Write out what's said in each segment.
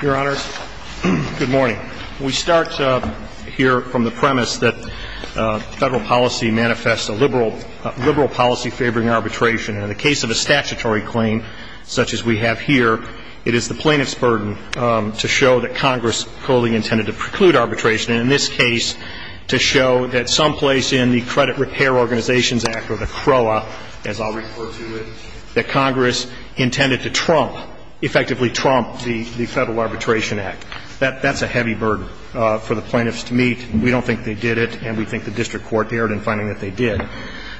Good morning. We start here from the premise that federal policy manifests a liberal policy favoring arbitration. In the case of a statutory claim, such as we have here, it is the plaintiff's burden to show that Congress wholly intended to preclude arbitration, and in this case, to show that someplace in the Credit Repair Organizations Act, or the CROA, as I'll refer to it, that Congress intended to trump, effectively trump, the Federal Arbitration Act. That's a heavy burden for the plaintiffs to meet. We don't think they did it, and we think the district court erred in finding that they did.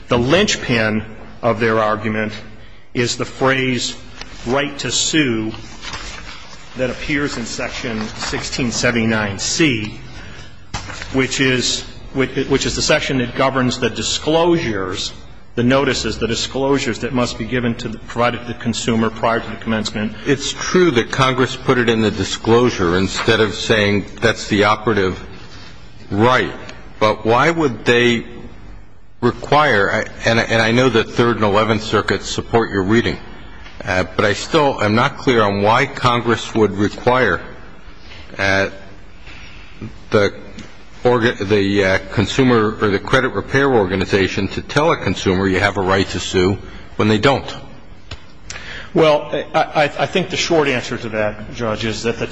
The linchpin of their argument is the phrase, that appears in Section 1679C, which is the section that governs the disclosures, the notices, the disclosures that must be given to the consumer prior to the commencement. It's true that Congress put it in the disclosure instead of saying that's the operative right, but why would they require, and I know the Third and Eleventh Circuits support your reading, but I still am not clear on why Congress would require the consumer or the credit repair organization to tell a consumer you have a right to sue when they don't. Well, I think the short answer to that, Judge, is that the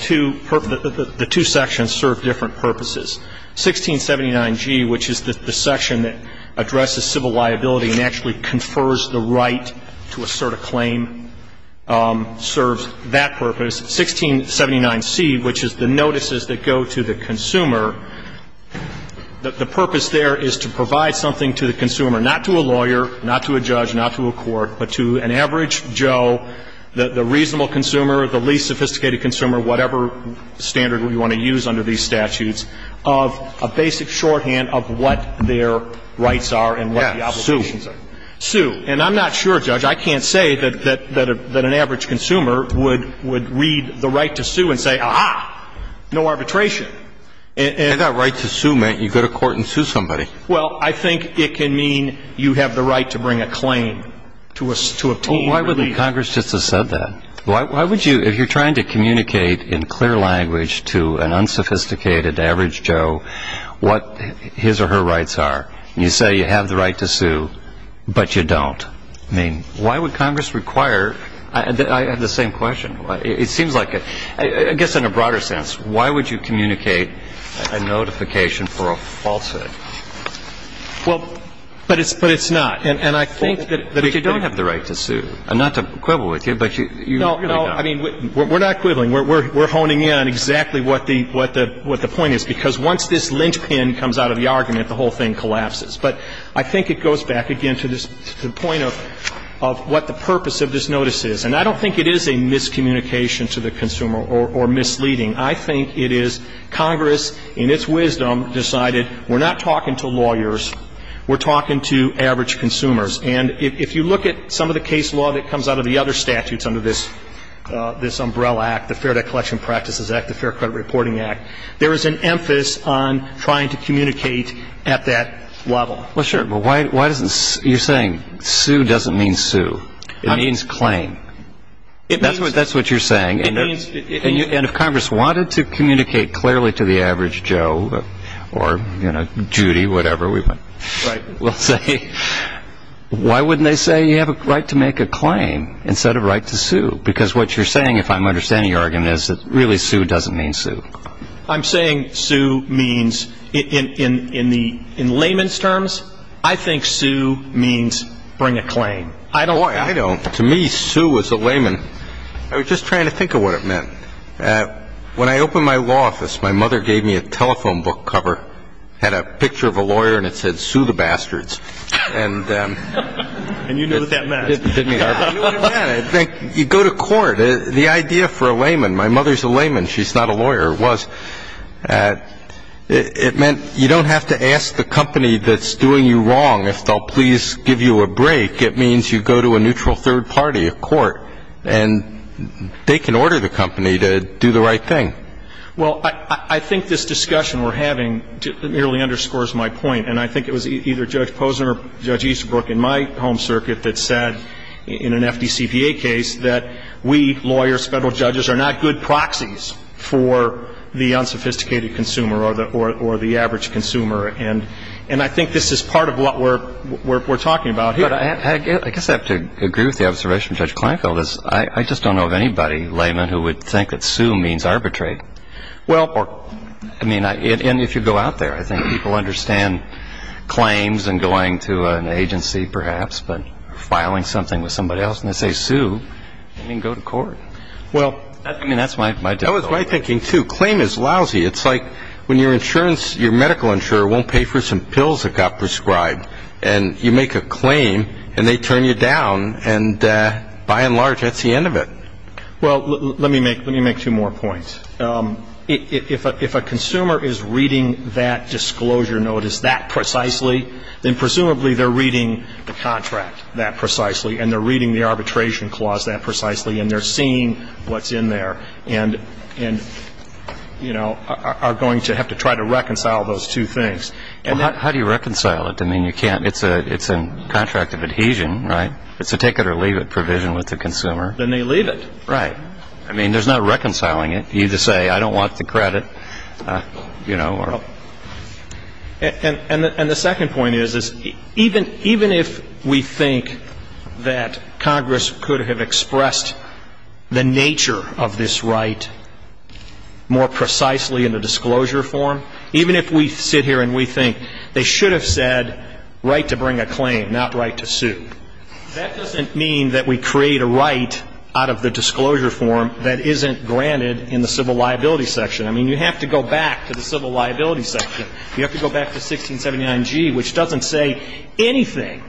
two sections serve different purposes. 1679G, which is the section that addresses civil liability and actually confers the right to assert a claim, serves that purpose. 1679C, which is the notices that go to the consumer, the purpose there is to provide something to the consumer, not to a lawyer, not to a judge, not to a court, but to an average Joe, the reasonable consumer, the least sophisticated consumer, whatever standard we want to use under these statutes, of a basic shorthand of what their rights are and what the obligations are. Yes, sue. Sue. And I'm not sure, Judge, I can't say that an average consumer would read the right to sue and say, aha, no arbitration. And that right to sue meant you go to court and sue somebody. Well, I think it can mean you have the right to bring a claim to obtain relief. Well, why wouldn't Congress just have said that? Why would you, if you're trying to communicate in clear language to an unsophisticated average Joe what his or her rights are, and you say you have the right to sue but you don't, I mean, why would Congress require? I have the same question. It seems like a, I guess in a broader sense, why would you communicate a notification for a falsehood? Well, but it's not. And I think that if you don't have the right to sue, and not to quibble with you, but you know, I mean, we're not quibbling. We're honing in on exactly what the point is, because once this linchpin comes out of the argument, the whole thing collapses. But I think it goes back, again, to the point of what the purpose of this notice is. And I don't think it is a miscommunication to the consumer or misleading. I think it is Congress, in its wisdom, decided we're not talking to lawyers, we're talking to average consumers. And if you look at some of the case law that comes out of the other statutes under this umbrella act, the Fair Debt Collection Practices Act, the Fair Credit Reporting Act, there is an emphasis on trying to communicate at that level. Well, sure. But why doesn't, you're saying sue doesn't mean sue. It means claim. That's what you're saying. And if Congress wanted to communicate clearly to the average Joe or, you know, Judy, whatever we might say, why wouldn't they say you have a right to make a claim instead of a right to sue? Because what you're saying, if I'm understanding your argument, is that really sue doesn't mean sue. I'm saying sue means, in layman's terms, I think sue means bring a claim. Boy, I don't. To me, sue was a layman. I was just trying to think of what it meant. When I opened my law office, my mother gave me a telephone book cover, had a picture of a lawyer, and it said, sue the bastards. And you knew what that meant. I knew what it meant. It meant you go to court. The idea for a layman, my mother's a layman, she's not a lawyer, was it meant you don't have to ask the company that's doing you wrong if they'll please give you a break. I think it means you go to a neutral third party, a court, and they can order the company to do the right thing. Well, I think this discussion we're having nearly underscores my point. And I think it was either Judge Posner or Judge Easterbrook in my home circuit that said in an FDCPA case that we lawyers, federal judges, are not good proxies for the unsophisticated consumer or the average consumer. And I think this is part of what we're talking about here. I guess I have to agree with the observation of Judge Kleinfeld. I just don't know of anybody, layman, who would think that sue means arbitrate. And if you go out there, I think people understand claims and going to an agency, perhaps, but filing something with somebody else, and they say sue, they can go to court. That was my thinking, too. Claim is lousy. It's like when your medical insurer won't pay for some pills that got prescribed, and you make a claim, and they turn you down, and by and large, that's the end of it. Well, let me make two more points. If a consumer is reading that disclosure notice that precisely, then presumably they're reading the contract that precisely, and they're reading the arbitration clause that precisely, and they're seeing what's in there and are going to have to try to reconcile those two things. Well, how do you reconcile it? I mean, you can't. It's a contract of adhesion, right? It's a take-it-or-leave-it provision with the consumer. Then they leave it. Right. I mean, there's no reconciling it. You just say, I don't want the credit, you know. And the second point is, even if we think that Congress could have expressed the nature of this right more precisely in the disclosure form, even if we sit here and we think they should have said right to bring a claim, not right to sue, that doesn't mean that we create a right out of the disclosure form that isn't granted in the civil liability section. I mean, you have to go back to the civil liability section. You have to go back to 1679G, which doesn't say anything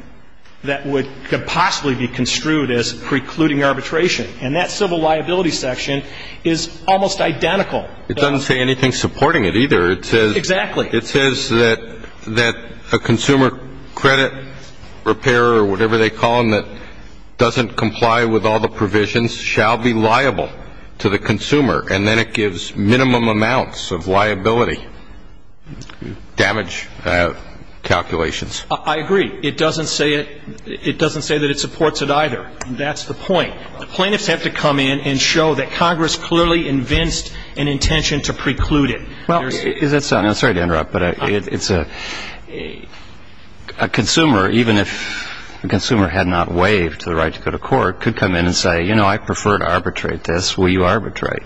that could possibly be construed as precluding arbitration. And that civil liability section is almost identical. It doesn't say anything supporting it either. Exactly. It says that a consumer credit repairer, or whatever they call them, that doesn't comply with all the provisions, shall be liable to the consumer. And then it gives minimum amounts of liability damage calculations. I agree. It doesn't say that it supports it either. And that's the point. Plaintiffs have to come in and show that Congress clearly invents an intention to preclude it. Well, I'm sorry to interrupt, but it's a consumer, even if the consumer had not waived the right to go to court, could come in and say, you know, I prefer to arbitrate this. Will you arbitrate?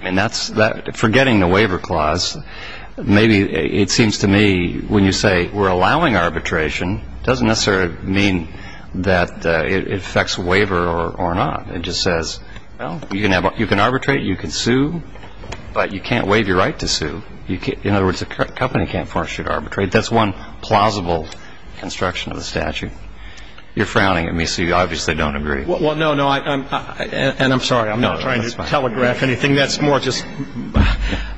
And forgetting the waiver clause, maybe it seems to me when you say we're allowing arbitration, doesn't necessarily mean that it affects waiver or not. It just says, well, you can arbitrate, you can sue, but you can't waive your right to sue. In other words, a company can't force you to arbitrate. That's one plausible construction of the statute. You're frowning at me, so you obviously don't agree. Well, no, no. And I'm sorry, I'm not trying to telegraph anything. That's more just –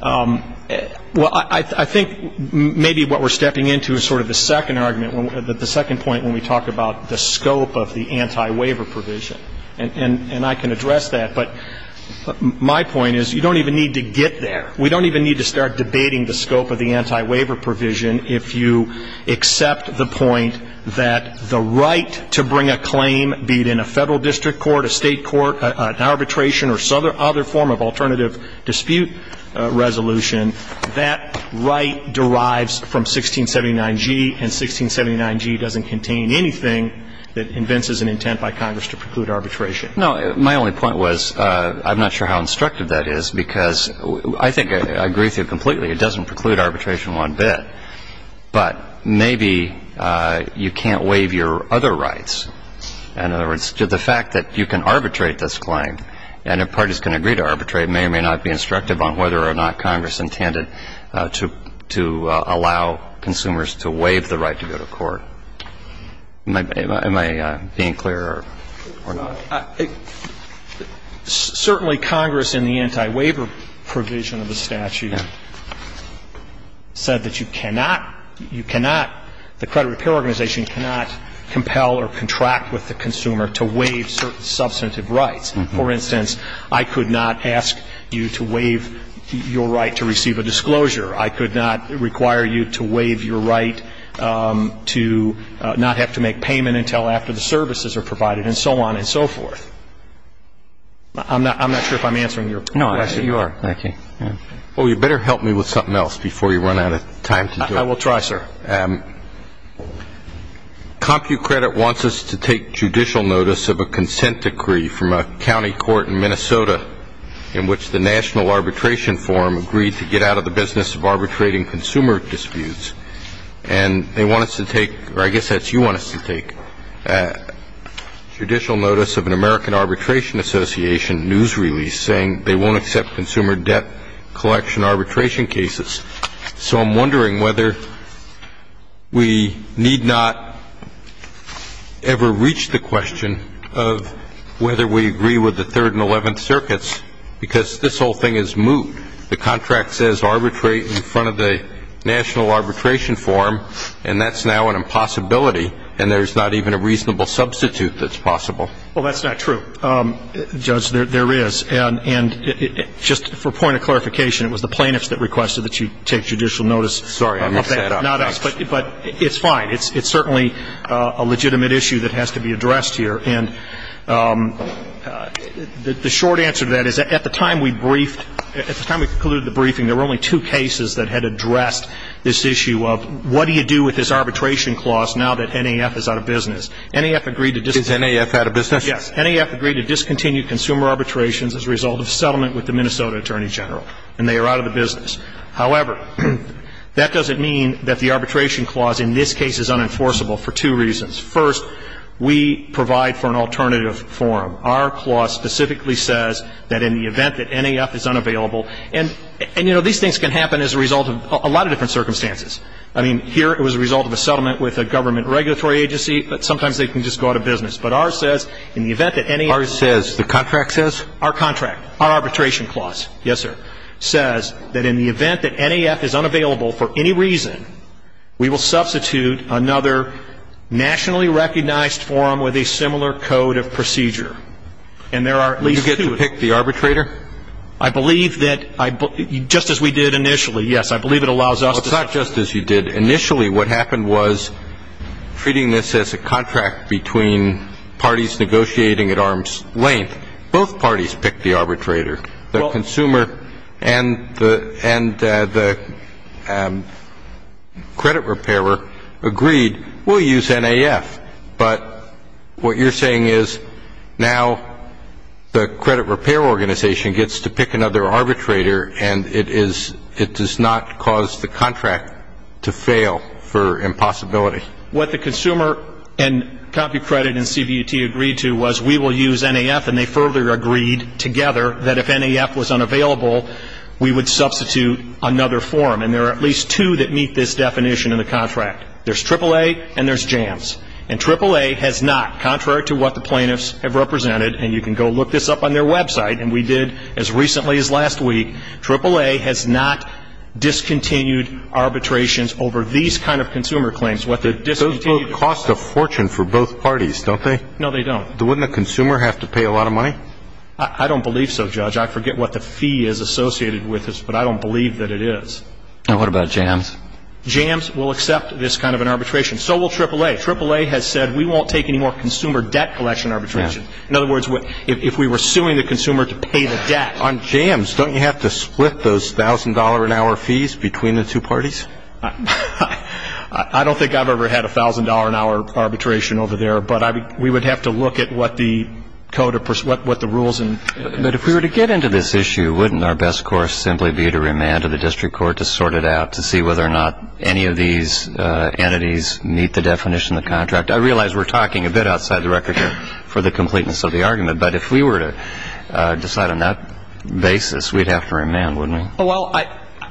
well, I think maybe what we're stepping into is sort of the second argument. The second point when we talk about the scope of the anti-waiver provision. And I can address that, but my point is you don't even need to get there. We don't even need to start debating the scope of the anti-waiver provision if you accept the point that the right to bring a claim, be it in a Federal district court, a State court, an arbitration of alternative dispute resolution, that right derives from 1679G, and 1679G doesn't contain anything that invents as an intent by Congress to preclude arbitration. No. My only point was I'm not sure how instructive that is, because I think I agree with you completely. It doesn't preclude arbitration one bit. But maybe you can't waive your other rights. In other words, the fact that you can arbitrate this claim, and if parties can agree to arbitrate, may or may not be instructive on whether or not Congress intended to allow consumers to waive the right to go to court. Am I being clear or not? Certainly, Congress in the anti-waiver provision of the statute said that you cannot the credit repair organization cannot compel or contract with the consumer to waive certain substantive rights. For instance, I could not ask you to waive your right to receive a disclosure. I could not require you to waive your right to not have to make payment until after the services are provided, and so on and so forth. I'm not sure if I'm answering your question. No, you are. Well, you better help me with something else before you run out of time to do it. I will try, sir. CompuCredit wants us to take judicial notice of a consent decree from a county court in Minnesota in which the National Arbitration Forum agreed to get out of the business of arbitrating consumer disputes. And they want us to take, or I guess that's you want us to take, judicial notice of an American Arbitration Association news release saying they won't accept consumer debt collection arbitration cases. So I'm wondering whether we need not ever reach the question of whether we agree with the Third and Eleventh Circuits because this whole thing is moot. The contract says arbitrate in front of the National Arbitration Forum, and that's now an impossibility, and there's not even a reasonable substitute that's possible. Well, that's not true, Judge. There is. And just for a point of clarification, it was the plaintiffs that requested that you take judicial notice. Sorry, I'm upset. Not us. But it's fine. It's certainly a legitimate issue that has to be addressed here. And the short answer to that is at the time we briefed, at the time we concluded the briefing, there were only two cases that had addressed this issue of what do you do with this arbitration clause now that NAF is out of business. NAF agreed to discontinue. Is NAF out of business? Yes. NAF agreed to discontinue consumer arbitrations as a result of settlement with the Minnesota Attorney General, and they are out of the business. However, that doesn't mean that the arbitration clause in this case is unenforceable for two reasons. First, we provide for an alternative forum. Our clause specifically says that in the event that NAF is unavailable, and, you know, these things can happen as a result of a lot of different circumstances. I mean, here it was a result of a settlement with a government regulatory agency, but sometimes they can just go out of business. But ours says in the event that NAF is unavailable. Ours says, the contract says? Our contract, our arbitration clause, yes, sir, says that in the event that NAF is unavailable for any reason, we will substitute another nationally recognized forum with a similar code of procedure. And there are at least two of them. You get to pick the arbitrator? I believe that, just as we did initially, yes, I believe it allows us to. Well, it's not just as you did. Initially what happened was treating this as a contract between parties negotiating at arm's length. Both parties picked the arbitrator. The consumer and the credit repairer agreed, we'll use NAF. But what you're saying is now the credit repair organization gets to pick another arbitrator and it does not cause the contract to fail for impossibility. What the consumer and CompuCredit and CVT agreed to was we will use NAF, and they further agreed together that if NAF was unavailable, we would substitute another forum. And there are at least two that meet this definition in the contract. There's AAA and there's JANS. And AAA has not, contrary to what the plaintiffs have represented, and you can go look this up on their website, and we did as recently as last week, AAA has not discontinued arbitrations over these kind of consumer claims. Those both cost a fortune for both parties, don't they? No, they don't. Wouldn't a consumer have to pay a lot of money? I don't believe so, Judge. I forget what the fee is associated with this, but I don't believe that it is. And what about JANS? JANS will accept this kind of an arbitration. So will AAA. AAA has said we won't take any more consumer debt collection arbitrations. In other words, if we were suing the consumer to pay the debt on JANS, don't you have to split those $1,000-an-hour fees between the two parties? I don't think I've ever had $1,000-an-hour arbitration over there, but we would have to look at what the code or what the rules. But if we were to get into this issue, wouldn't our best course simply be to remand to the district court to sort it out, to see whether or not any of these entities meet the definition of the contract? I realize we're talking a bit outside the record here for the completeness of the argument, but if we were to decide on that basis, we'd have to remand, wouldn't we? Well,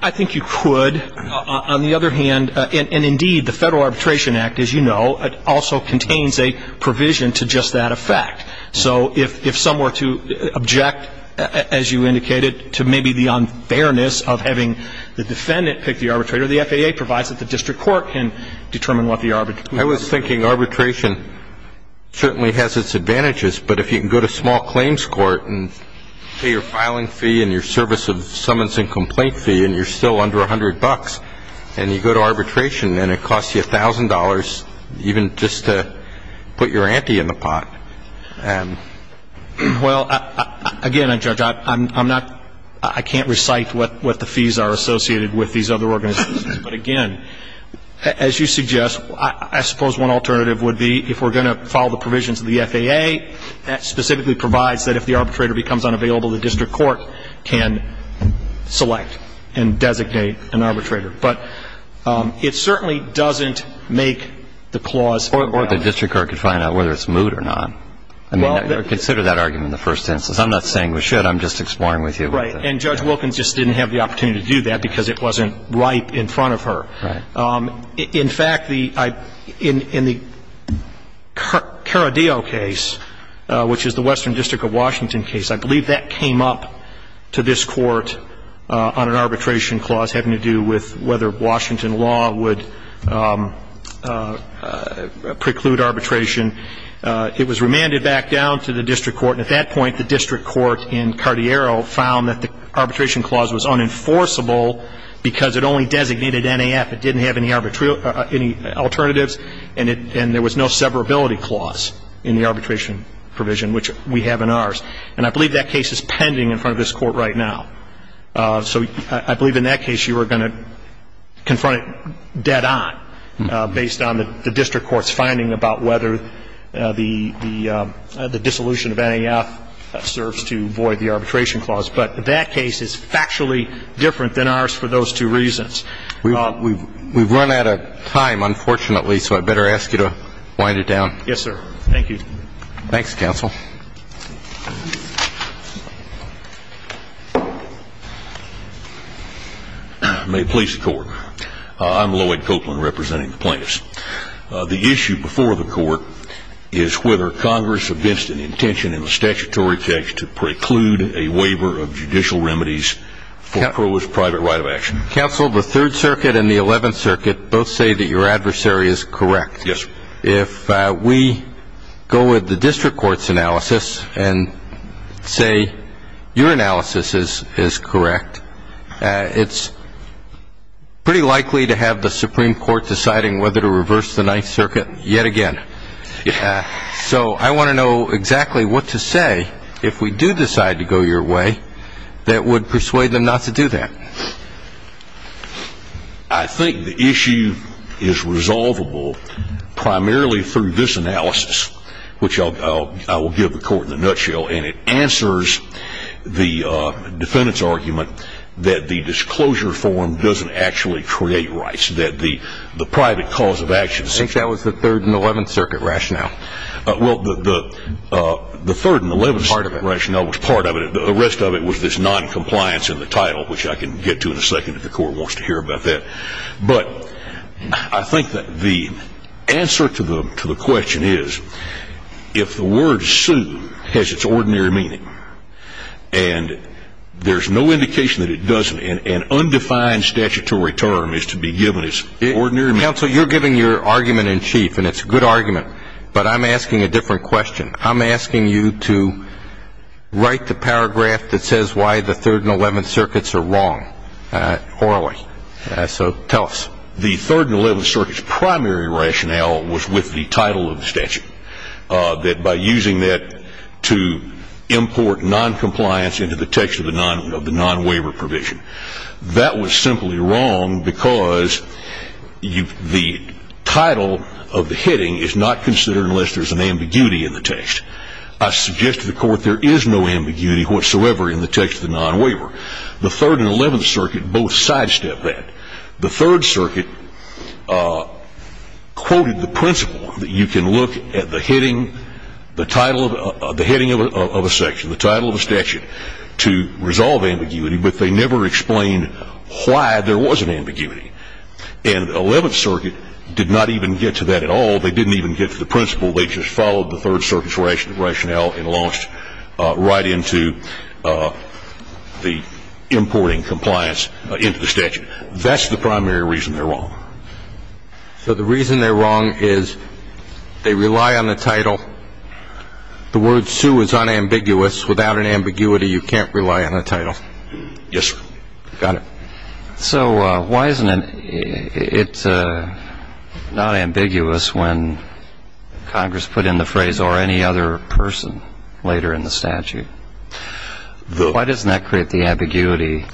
I think you could. On the other hand, and indeed, the Federal Arbitration Act, as you know, also contains a provision to just that effect. So if some were to object, as you indicated, to maybe the unfairness of having the defendant pick the arbitrator, I was thinking arbitration certainly has its advantages, but if you can go to small claims court and pay your filing fee and your service of summons and complaint fee and you're still under $100 and you go to arbitration and it costs you $1,000 even just to put your auntie in the pot. Well, again, Judge, I can't recite what the fees are associated with these other organizations. But, again, as you suggest, I suppose one alternative would be if we're going to follow the provisions of the FAA that specifically provides that if the arbitrator becomes unavailable, the district court can select and designate an arbitrator. But it certainly doesn't make the clause. Or the district court could find out whether it's moot or not. I mean, consider that argument in the first instance. I'm not saying we should. I'm just exploring with you. Right. And Judge Wilkins just didn't have the opportunity to do that because it wasn't ripe in front of her. Right. In fact, in the Caradillo case, which is the Western District of Washington case, I believe that came up to this Court on an arbitration clause having to do with whether Washington law would preclude arbitration. It was remanded back down to the district court. And at that point, the district court in Cartiero found that the arbitration clause was unenforceable because it only designated NAF. It didn't have any alternatives. And there was no severability clause in the arbitration provision, which we have in ours. And I believe that case is pending in front of this Court right now. So I believe in that case you were going to confront it dead on, based on the district court's finding about whether the dissolution of NAF serves to void the arbitration clause. But that case is factually different than ours for those two reasons. We've run out of time, unfortunately, so I'd better ask you to wind it down. Yes, sir. Thank you. Thanks, counsel. May it please the Court. I'm Lloyd Copeland, representing the plaintiffs. The issue before the Court is whether Congress against an intention in the statutory text to preclude a waiver of judicial remedies for Crow's private right of action. Counsel, the Third Circuit and the Eleventh Circuit both say that your adversary is correct. Yes, sir. If we go with the district court's analysis and say your analysis is correct, it's pretty likely to have the Supreme Court deciding whether to reverse the Ninth Circuit yet again. So I want to know exactly what to say if we do decide to go your way that would persuade them not to do that. I think the issue is resolvable primarily through this analysis, which I will give the Court in a nutshell, and it answers the defendant's argument that the disclosure form doesn't actually create rights, that the private cause of action is not. I think that was the Third and Eleventh Circuit rationale. Well, the Third and Eleventh Circuit rationale was part of it. The rest of it was this noncompliance in the title, which I can get to in a second if the Court wants to hear about that. But I think that the answer to the question is if the word sue has its ordinary meaning and there's no indication that it doesn't, an undefined statutory term is to be given its ordinary meaning. Counsel, you're giving your argument in chief, and it's a good argument, but I'm asking a different question. I'm asking you to write the paragraph that says why the Third and Eleventh Circuits are wrong orally. So tell us. The Third and Eleventh Circuit's primary rationale was with the title of the statute, that by using that to import noncompliance into the text of the nonwaiver provision. That was simply wrong because the title of the heading is not considered unless there's an ambiguity in the text. I suggest to the Court there is no ambiguity whatsoever in the text of the nonwaiver. The Third and Eleventh Circuit both sidestep that. The Third Circuit quoted the principle that you can look at the heading of a section, to resolve ambiguity, but they never explained why there was an ambiguity. And Eleventh Circuit did not even get to that at all. They didn't even get to the principle. They just followed the Third Circuit's rationale and launched right into the importing compliance into the statute. That's the primary reason they're wrong. So the reason they're wrong is they rely on the title. The word sue is unambiguous. Without an ambiguity, you can't rely on the title. Yes, sir. Got it. So why isn't it not ambiguous when Congress put in the phrase or any other person later in the statute? Why doesn't that create the ambiguity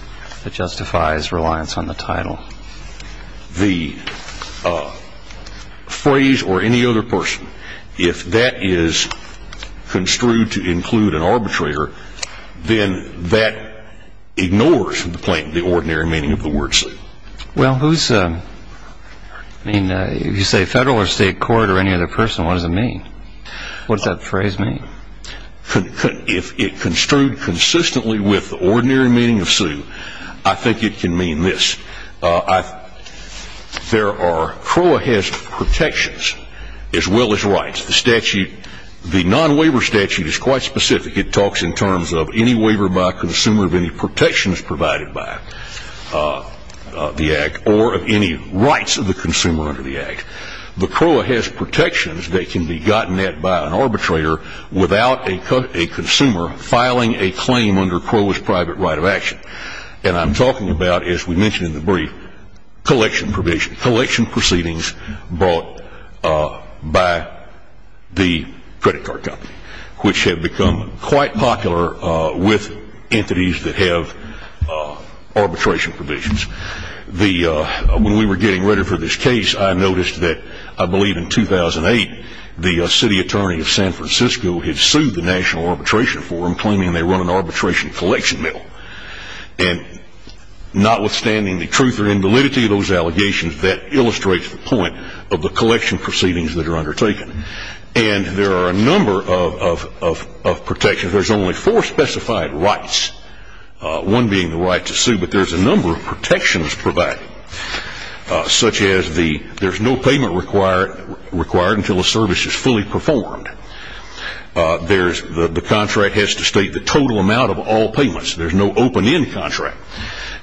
that justifies reliance on the title? The phrase or any other person, if that is construed to include an arbitrator, then that ignores the plaintiff the ordinary meaning of the word sue. Well, if you say federal or state court or any other person, what does it mean? What does that phrase mean? If it construed consistently with the ordinary meaning of sue, I think it can mean this. There are CROA has protections as well as rights. The statute, the non-waiver statute is quite specific. It talks in terms of any waiver by a consumer of any protections provided by the Act or of any rights of the consumer under the Act. The CROA has protections that can be gotten at by an arbitrator without a consumer filing a claim under CROA's private right of action. And I'm talking about, as we mentioned in the brief, collection provision, collection proceedings brought by the credit card company, which have become quite popular with entities that have arbitration provisions. When we were getting ready for this case, I noticed that I believe in 2008 the city attorney of San Francisco had sued the National Arbitration Forum claiming they run an arbitration collection mill. And notwithstanding the truth or invalidity of those allegations, that illustrates the point of the collection proceedings that are undertaken. And there are a number of protections. But there's a number of protections provided. Such as there's no payment required until a service is fully performed. The contract has to state the total amount of all payments. There's no open-end contract.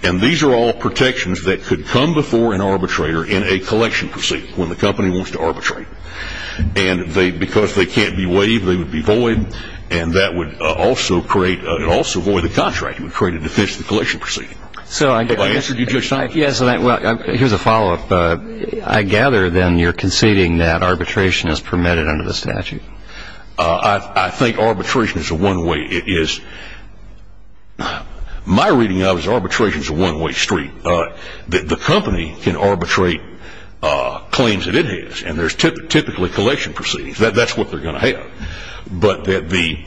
And these are all protections that could come before an arbitrator in a collection proceeding, when the company wants to arbitrate. And because they can't be waived, they would be void. And that would also create, it would also void the contract. It would create a defense to the collection proceeding. Have I answered you, Judge Stein? Yes. Here's a follow-up. I gather, then, you're conceding that arbitration is permitted under the statute. I think arbitration is a one-way. It is. My reading of it is arbitration is a one-way street. The company can arbitrate claims that it has. And there's typically collection proceedings. That's what they're going to have. But that the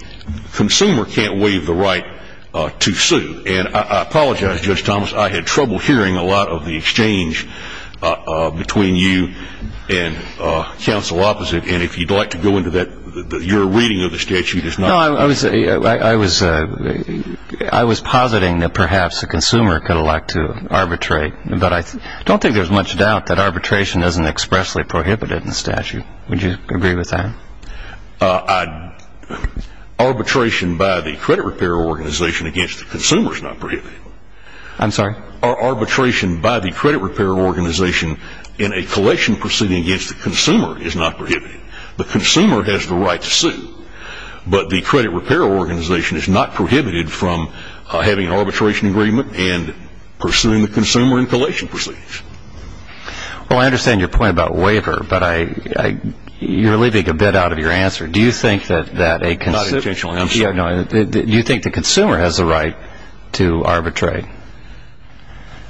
consumer can't waive the right to sue. And I apologize, Judge Thomas. I had trouble hearing a lot of the exchange between you and counsel opposite. And if you'd like to go into that, your reading of the statute is not. I was positing that perhaps the consumer could elect to arbitrate. But I don't think there's much doubt that arbitration isn't expressly prohibited in the statute. Would you agree with that? Arbitration by the credit repair organization against the consumer is not prohibited. I'm sorry? Arbitration by the credit repair organization in a collection proceeding against the consumer is not prohibited. The consumer has the right to sue. But the credit repair organization is not prohibited from having an arbitration agreement and pursuing the consumer in collection proceedings. Well, I understand your point about waiver. But you're leaving a bit out of your answer. Do you think that a consumer has the right to arbitrate?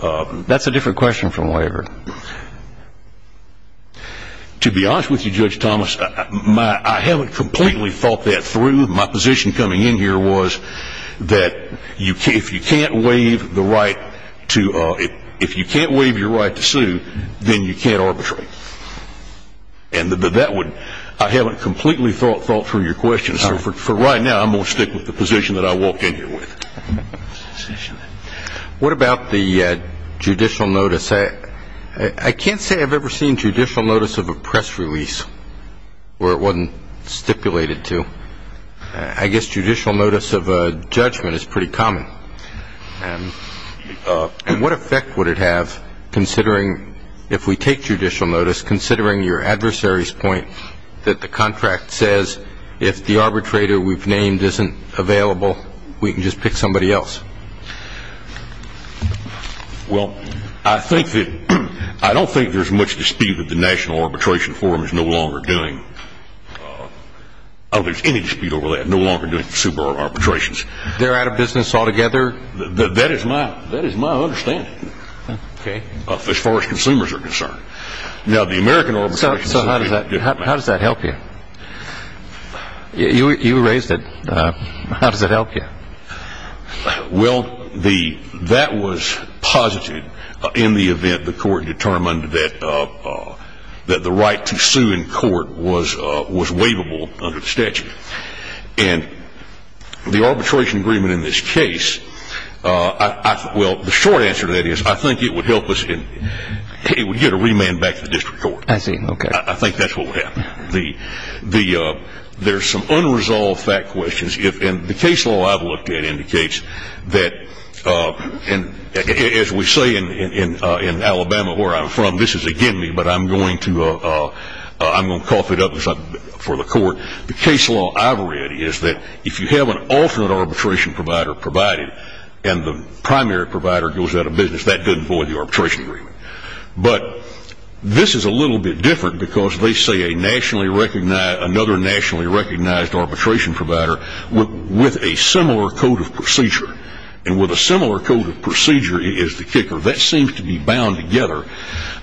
That's a different question from waiver. To be honest with you, Judge Thomas, I haven't completely thought that through. My position coming in here was that if you can't waive your right to sue, then you can't arbitrate. And I haven't completely thought through your question. So for right now, I'm going to stick with the position that I walked in here with. What about the judicial notice? I can't say I've ever seen judicial notice of a press release where it wasn't stipulated to. I guess judicial notice of a judgment is pretty common. And what effect would it have, if we take judicial notice, considering your adversary's point that the contract says if the arbitrator we've named isn't available, we can just pick somebody else? Well, I don't think there's much dispute that the National Arbitration Forum is no longer doing. I don't think there's any dispute over that, no longer doing consumer arbitrations. They're out of business altogether? That is my understanding, as far as consumers are concerned. Now, the American arbitration system is different. So how does that help you? You raised it. How does it help you? Well, that was positive in the event the court determined that the right to sue in court was waivable under the statute. And the arbitration agreement in this case, well, the short answer to that is I think it would help us and it would get a remand back to the district court. I see. Okay. I think that's what would happen. There's some unresolved fact questions. And the case law I've looked at indicates that, as we say in Alabama, where I'm from, this is again me, but I'm going to cough it up for the court. The case law I've read is that if you have an alternate arbitration provider provided and the primary provider goes out of business, that doesn't void the arbitration agreement. But this is a little bit different because they say another nationally recognized arbitration provider with a similar code of procedure, and with a similar code of procedure is the kicker. That seems to be bound together.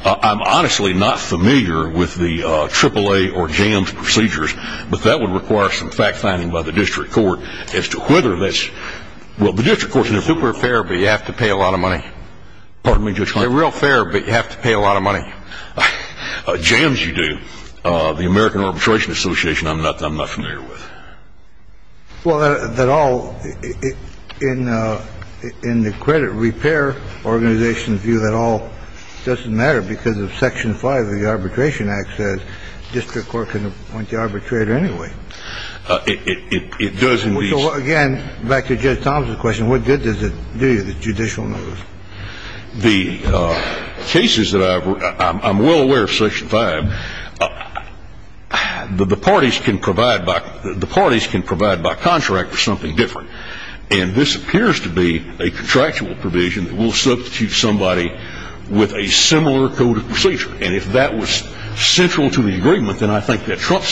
I'm honestly not familiar with the AAA or JAMS procedures, but that would require some fact-finding by the district court as to whether that's – well, the district court – It's super fair, but you have to pay a lot of money. Pardon me, Judge Holmes. They're real fair, but you have to pay a lot of money. JAMS you do. The American Arbitration Association I'm not familiar with. Well, that all – in the credit repair organization's view, that all doesn't matter because of Section 5 of the Arbitration Act says district court can appoint the arbitrator anyway. It does in these – So, again, back to Judge Thomson's question, what good does it do you, the judicial numbers? The cases that I've – I'm well aware of Section 5. The parties can provide by – the parties can provide by contract for something different, and this appears to be a contractual provision that will substitute somebody with a similar code of procedure. And if that was central to the agreement, then I think that Trump's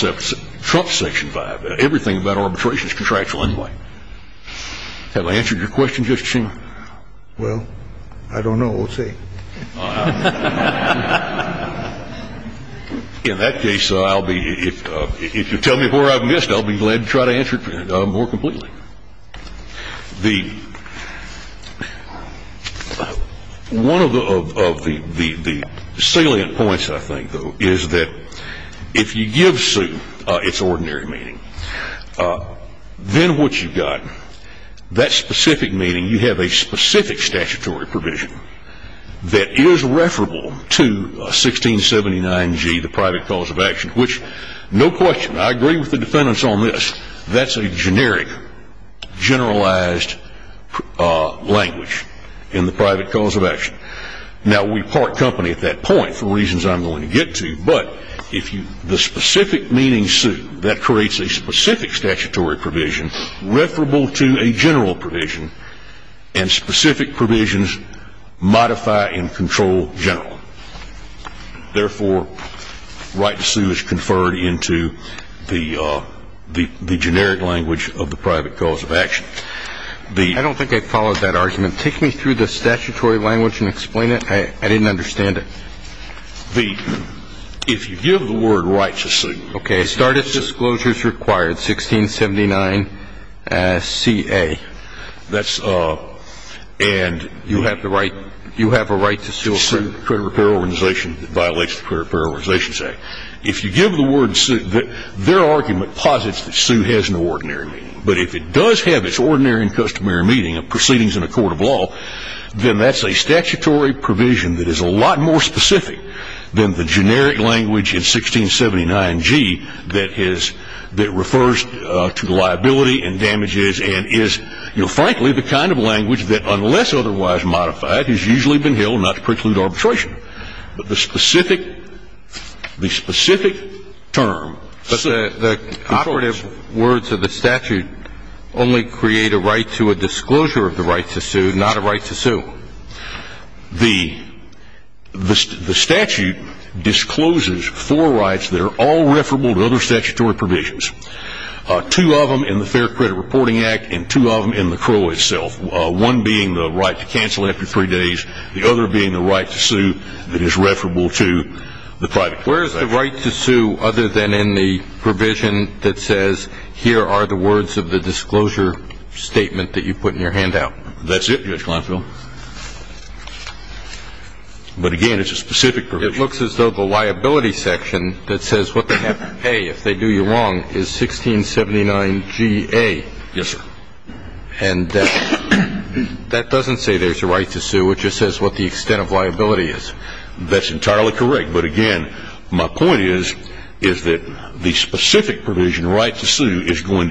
Section 5, everything about arbitration is contractual anyway. Have I answered your question, Justice Schumer? Well, I don't know what to say. In that case, I'll be – if you tell me where I've missed, I'll be glad to try to answer it more completely. The – one of the salient points, I think, though, is that if you give suit its ordinary meaning, then what you've got, that specific meaning, you have a specific statutory provision that is referable to 1679G, the private cause of action, which, no question, I agree with the defendants on this, that's a generic, generalized language in the private cause of action. Now, we part company at that point for reasons I'm going to get to, but if you – the specific meaning suit, that creates a specific statutory provision referable to a general provision, and specific provisions modify and control general. Therefore, right to sue is conferred into the generic language of the private cause of action. I don't think I followed that argument. Take me through the statutory language and explain it. I didn't understand it. The – if you give the word right to sue. Okay, start at disclosures required, 1679CA. That's – and you have the right – you have a right to sue a credit repair organization that violates the Credit Repair Organization Act. If you give the word sue, their argument posits that sue has an ordinary meaning. But if it does have its ordinary and customary meaning of proceedings in a court of law, then that's a statutory provision that is a lot more specific than the generic language in 1679G that has – you know, frankly, the kind of language that, unless otherwise modified, has usually been held not to preclude arbitration. But the specific – the specific term. But the operative words of the statute only create a right to a disclosure of the right to sue, not a right to sue. The statute discloses four rights that are all referable to other statutory provisions, two of them in the Fair Credit Reporting Act and two of them in the Crow itself, one being the right to cancel after three days, the other being the right to sue that is referable to the private company. Where is the right to sue other than in the provision that says, here are the words of the disclosure statement that you put in your handout? That's it, Judge Kleinfeld. But, again, it's a specific provision. It looks as though the liability section that says what they have to pay if they do you wrong is 1679Ga. Yes, sir. And that doesn't say there's a right to sue. It just says what the extent of liability is. That's entirely correct. But, again, my point is, is that the specific provision, right to sue, is going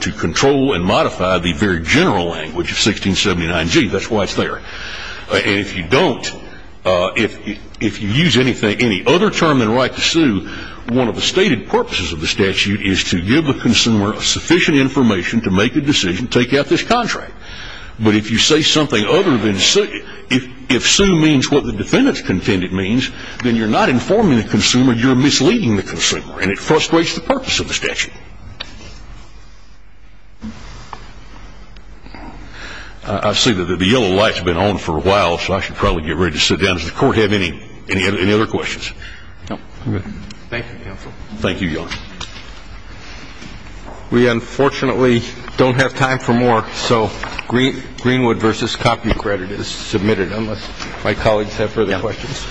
to control and modify the very general language of 1679G. That's why it's there. And if you don't, if you use any other term than right to sue, one of the stated purposes of the statute is to give the consumer sufficient information to make a decision, take out this contract. But if you say something other than sue, if sue means what the defendant's contended means, then you're not informing the consumer, you're misleading the consumer, and it frustrates the purpose of the statute. I see that the yellow light's been on for a while, so I should probably get ready to sit down. Does the Court have any other questions? No. Thank you, counsel. Thank you, Your Honor. We, unfortunately, don't have time for more, so Greenwood v. Cockney credit is submitted unless my colleagues have further questions.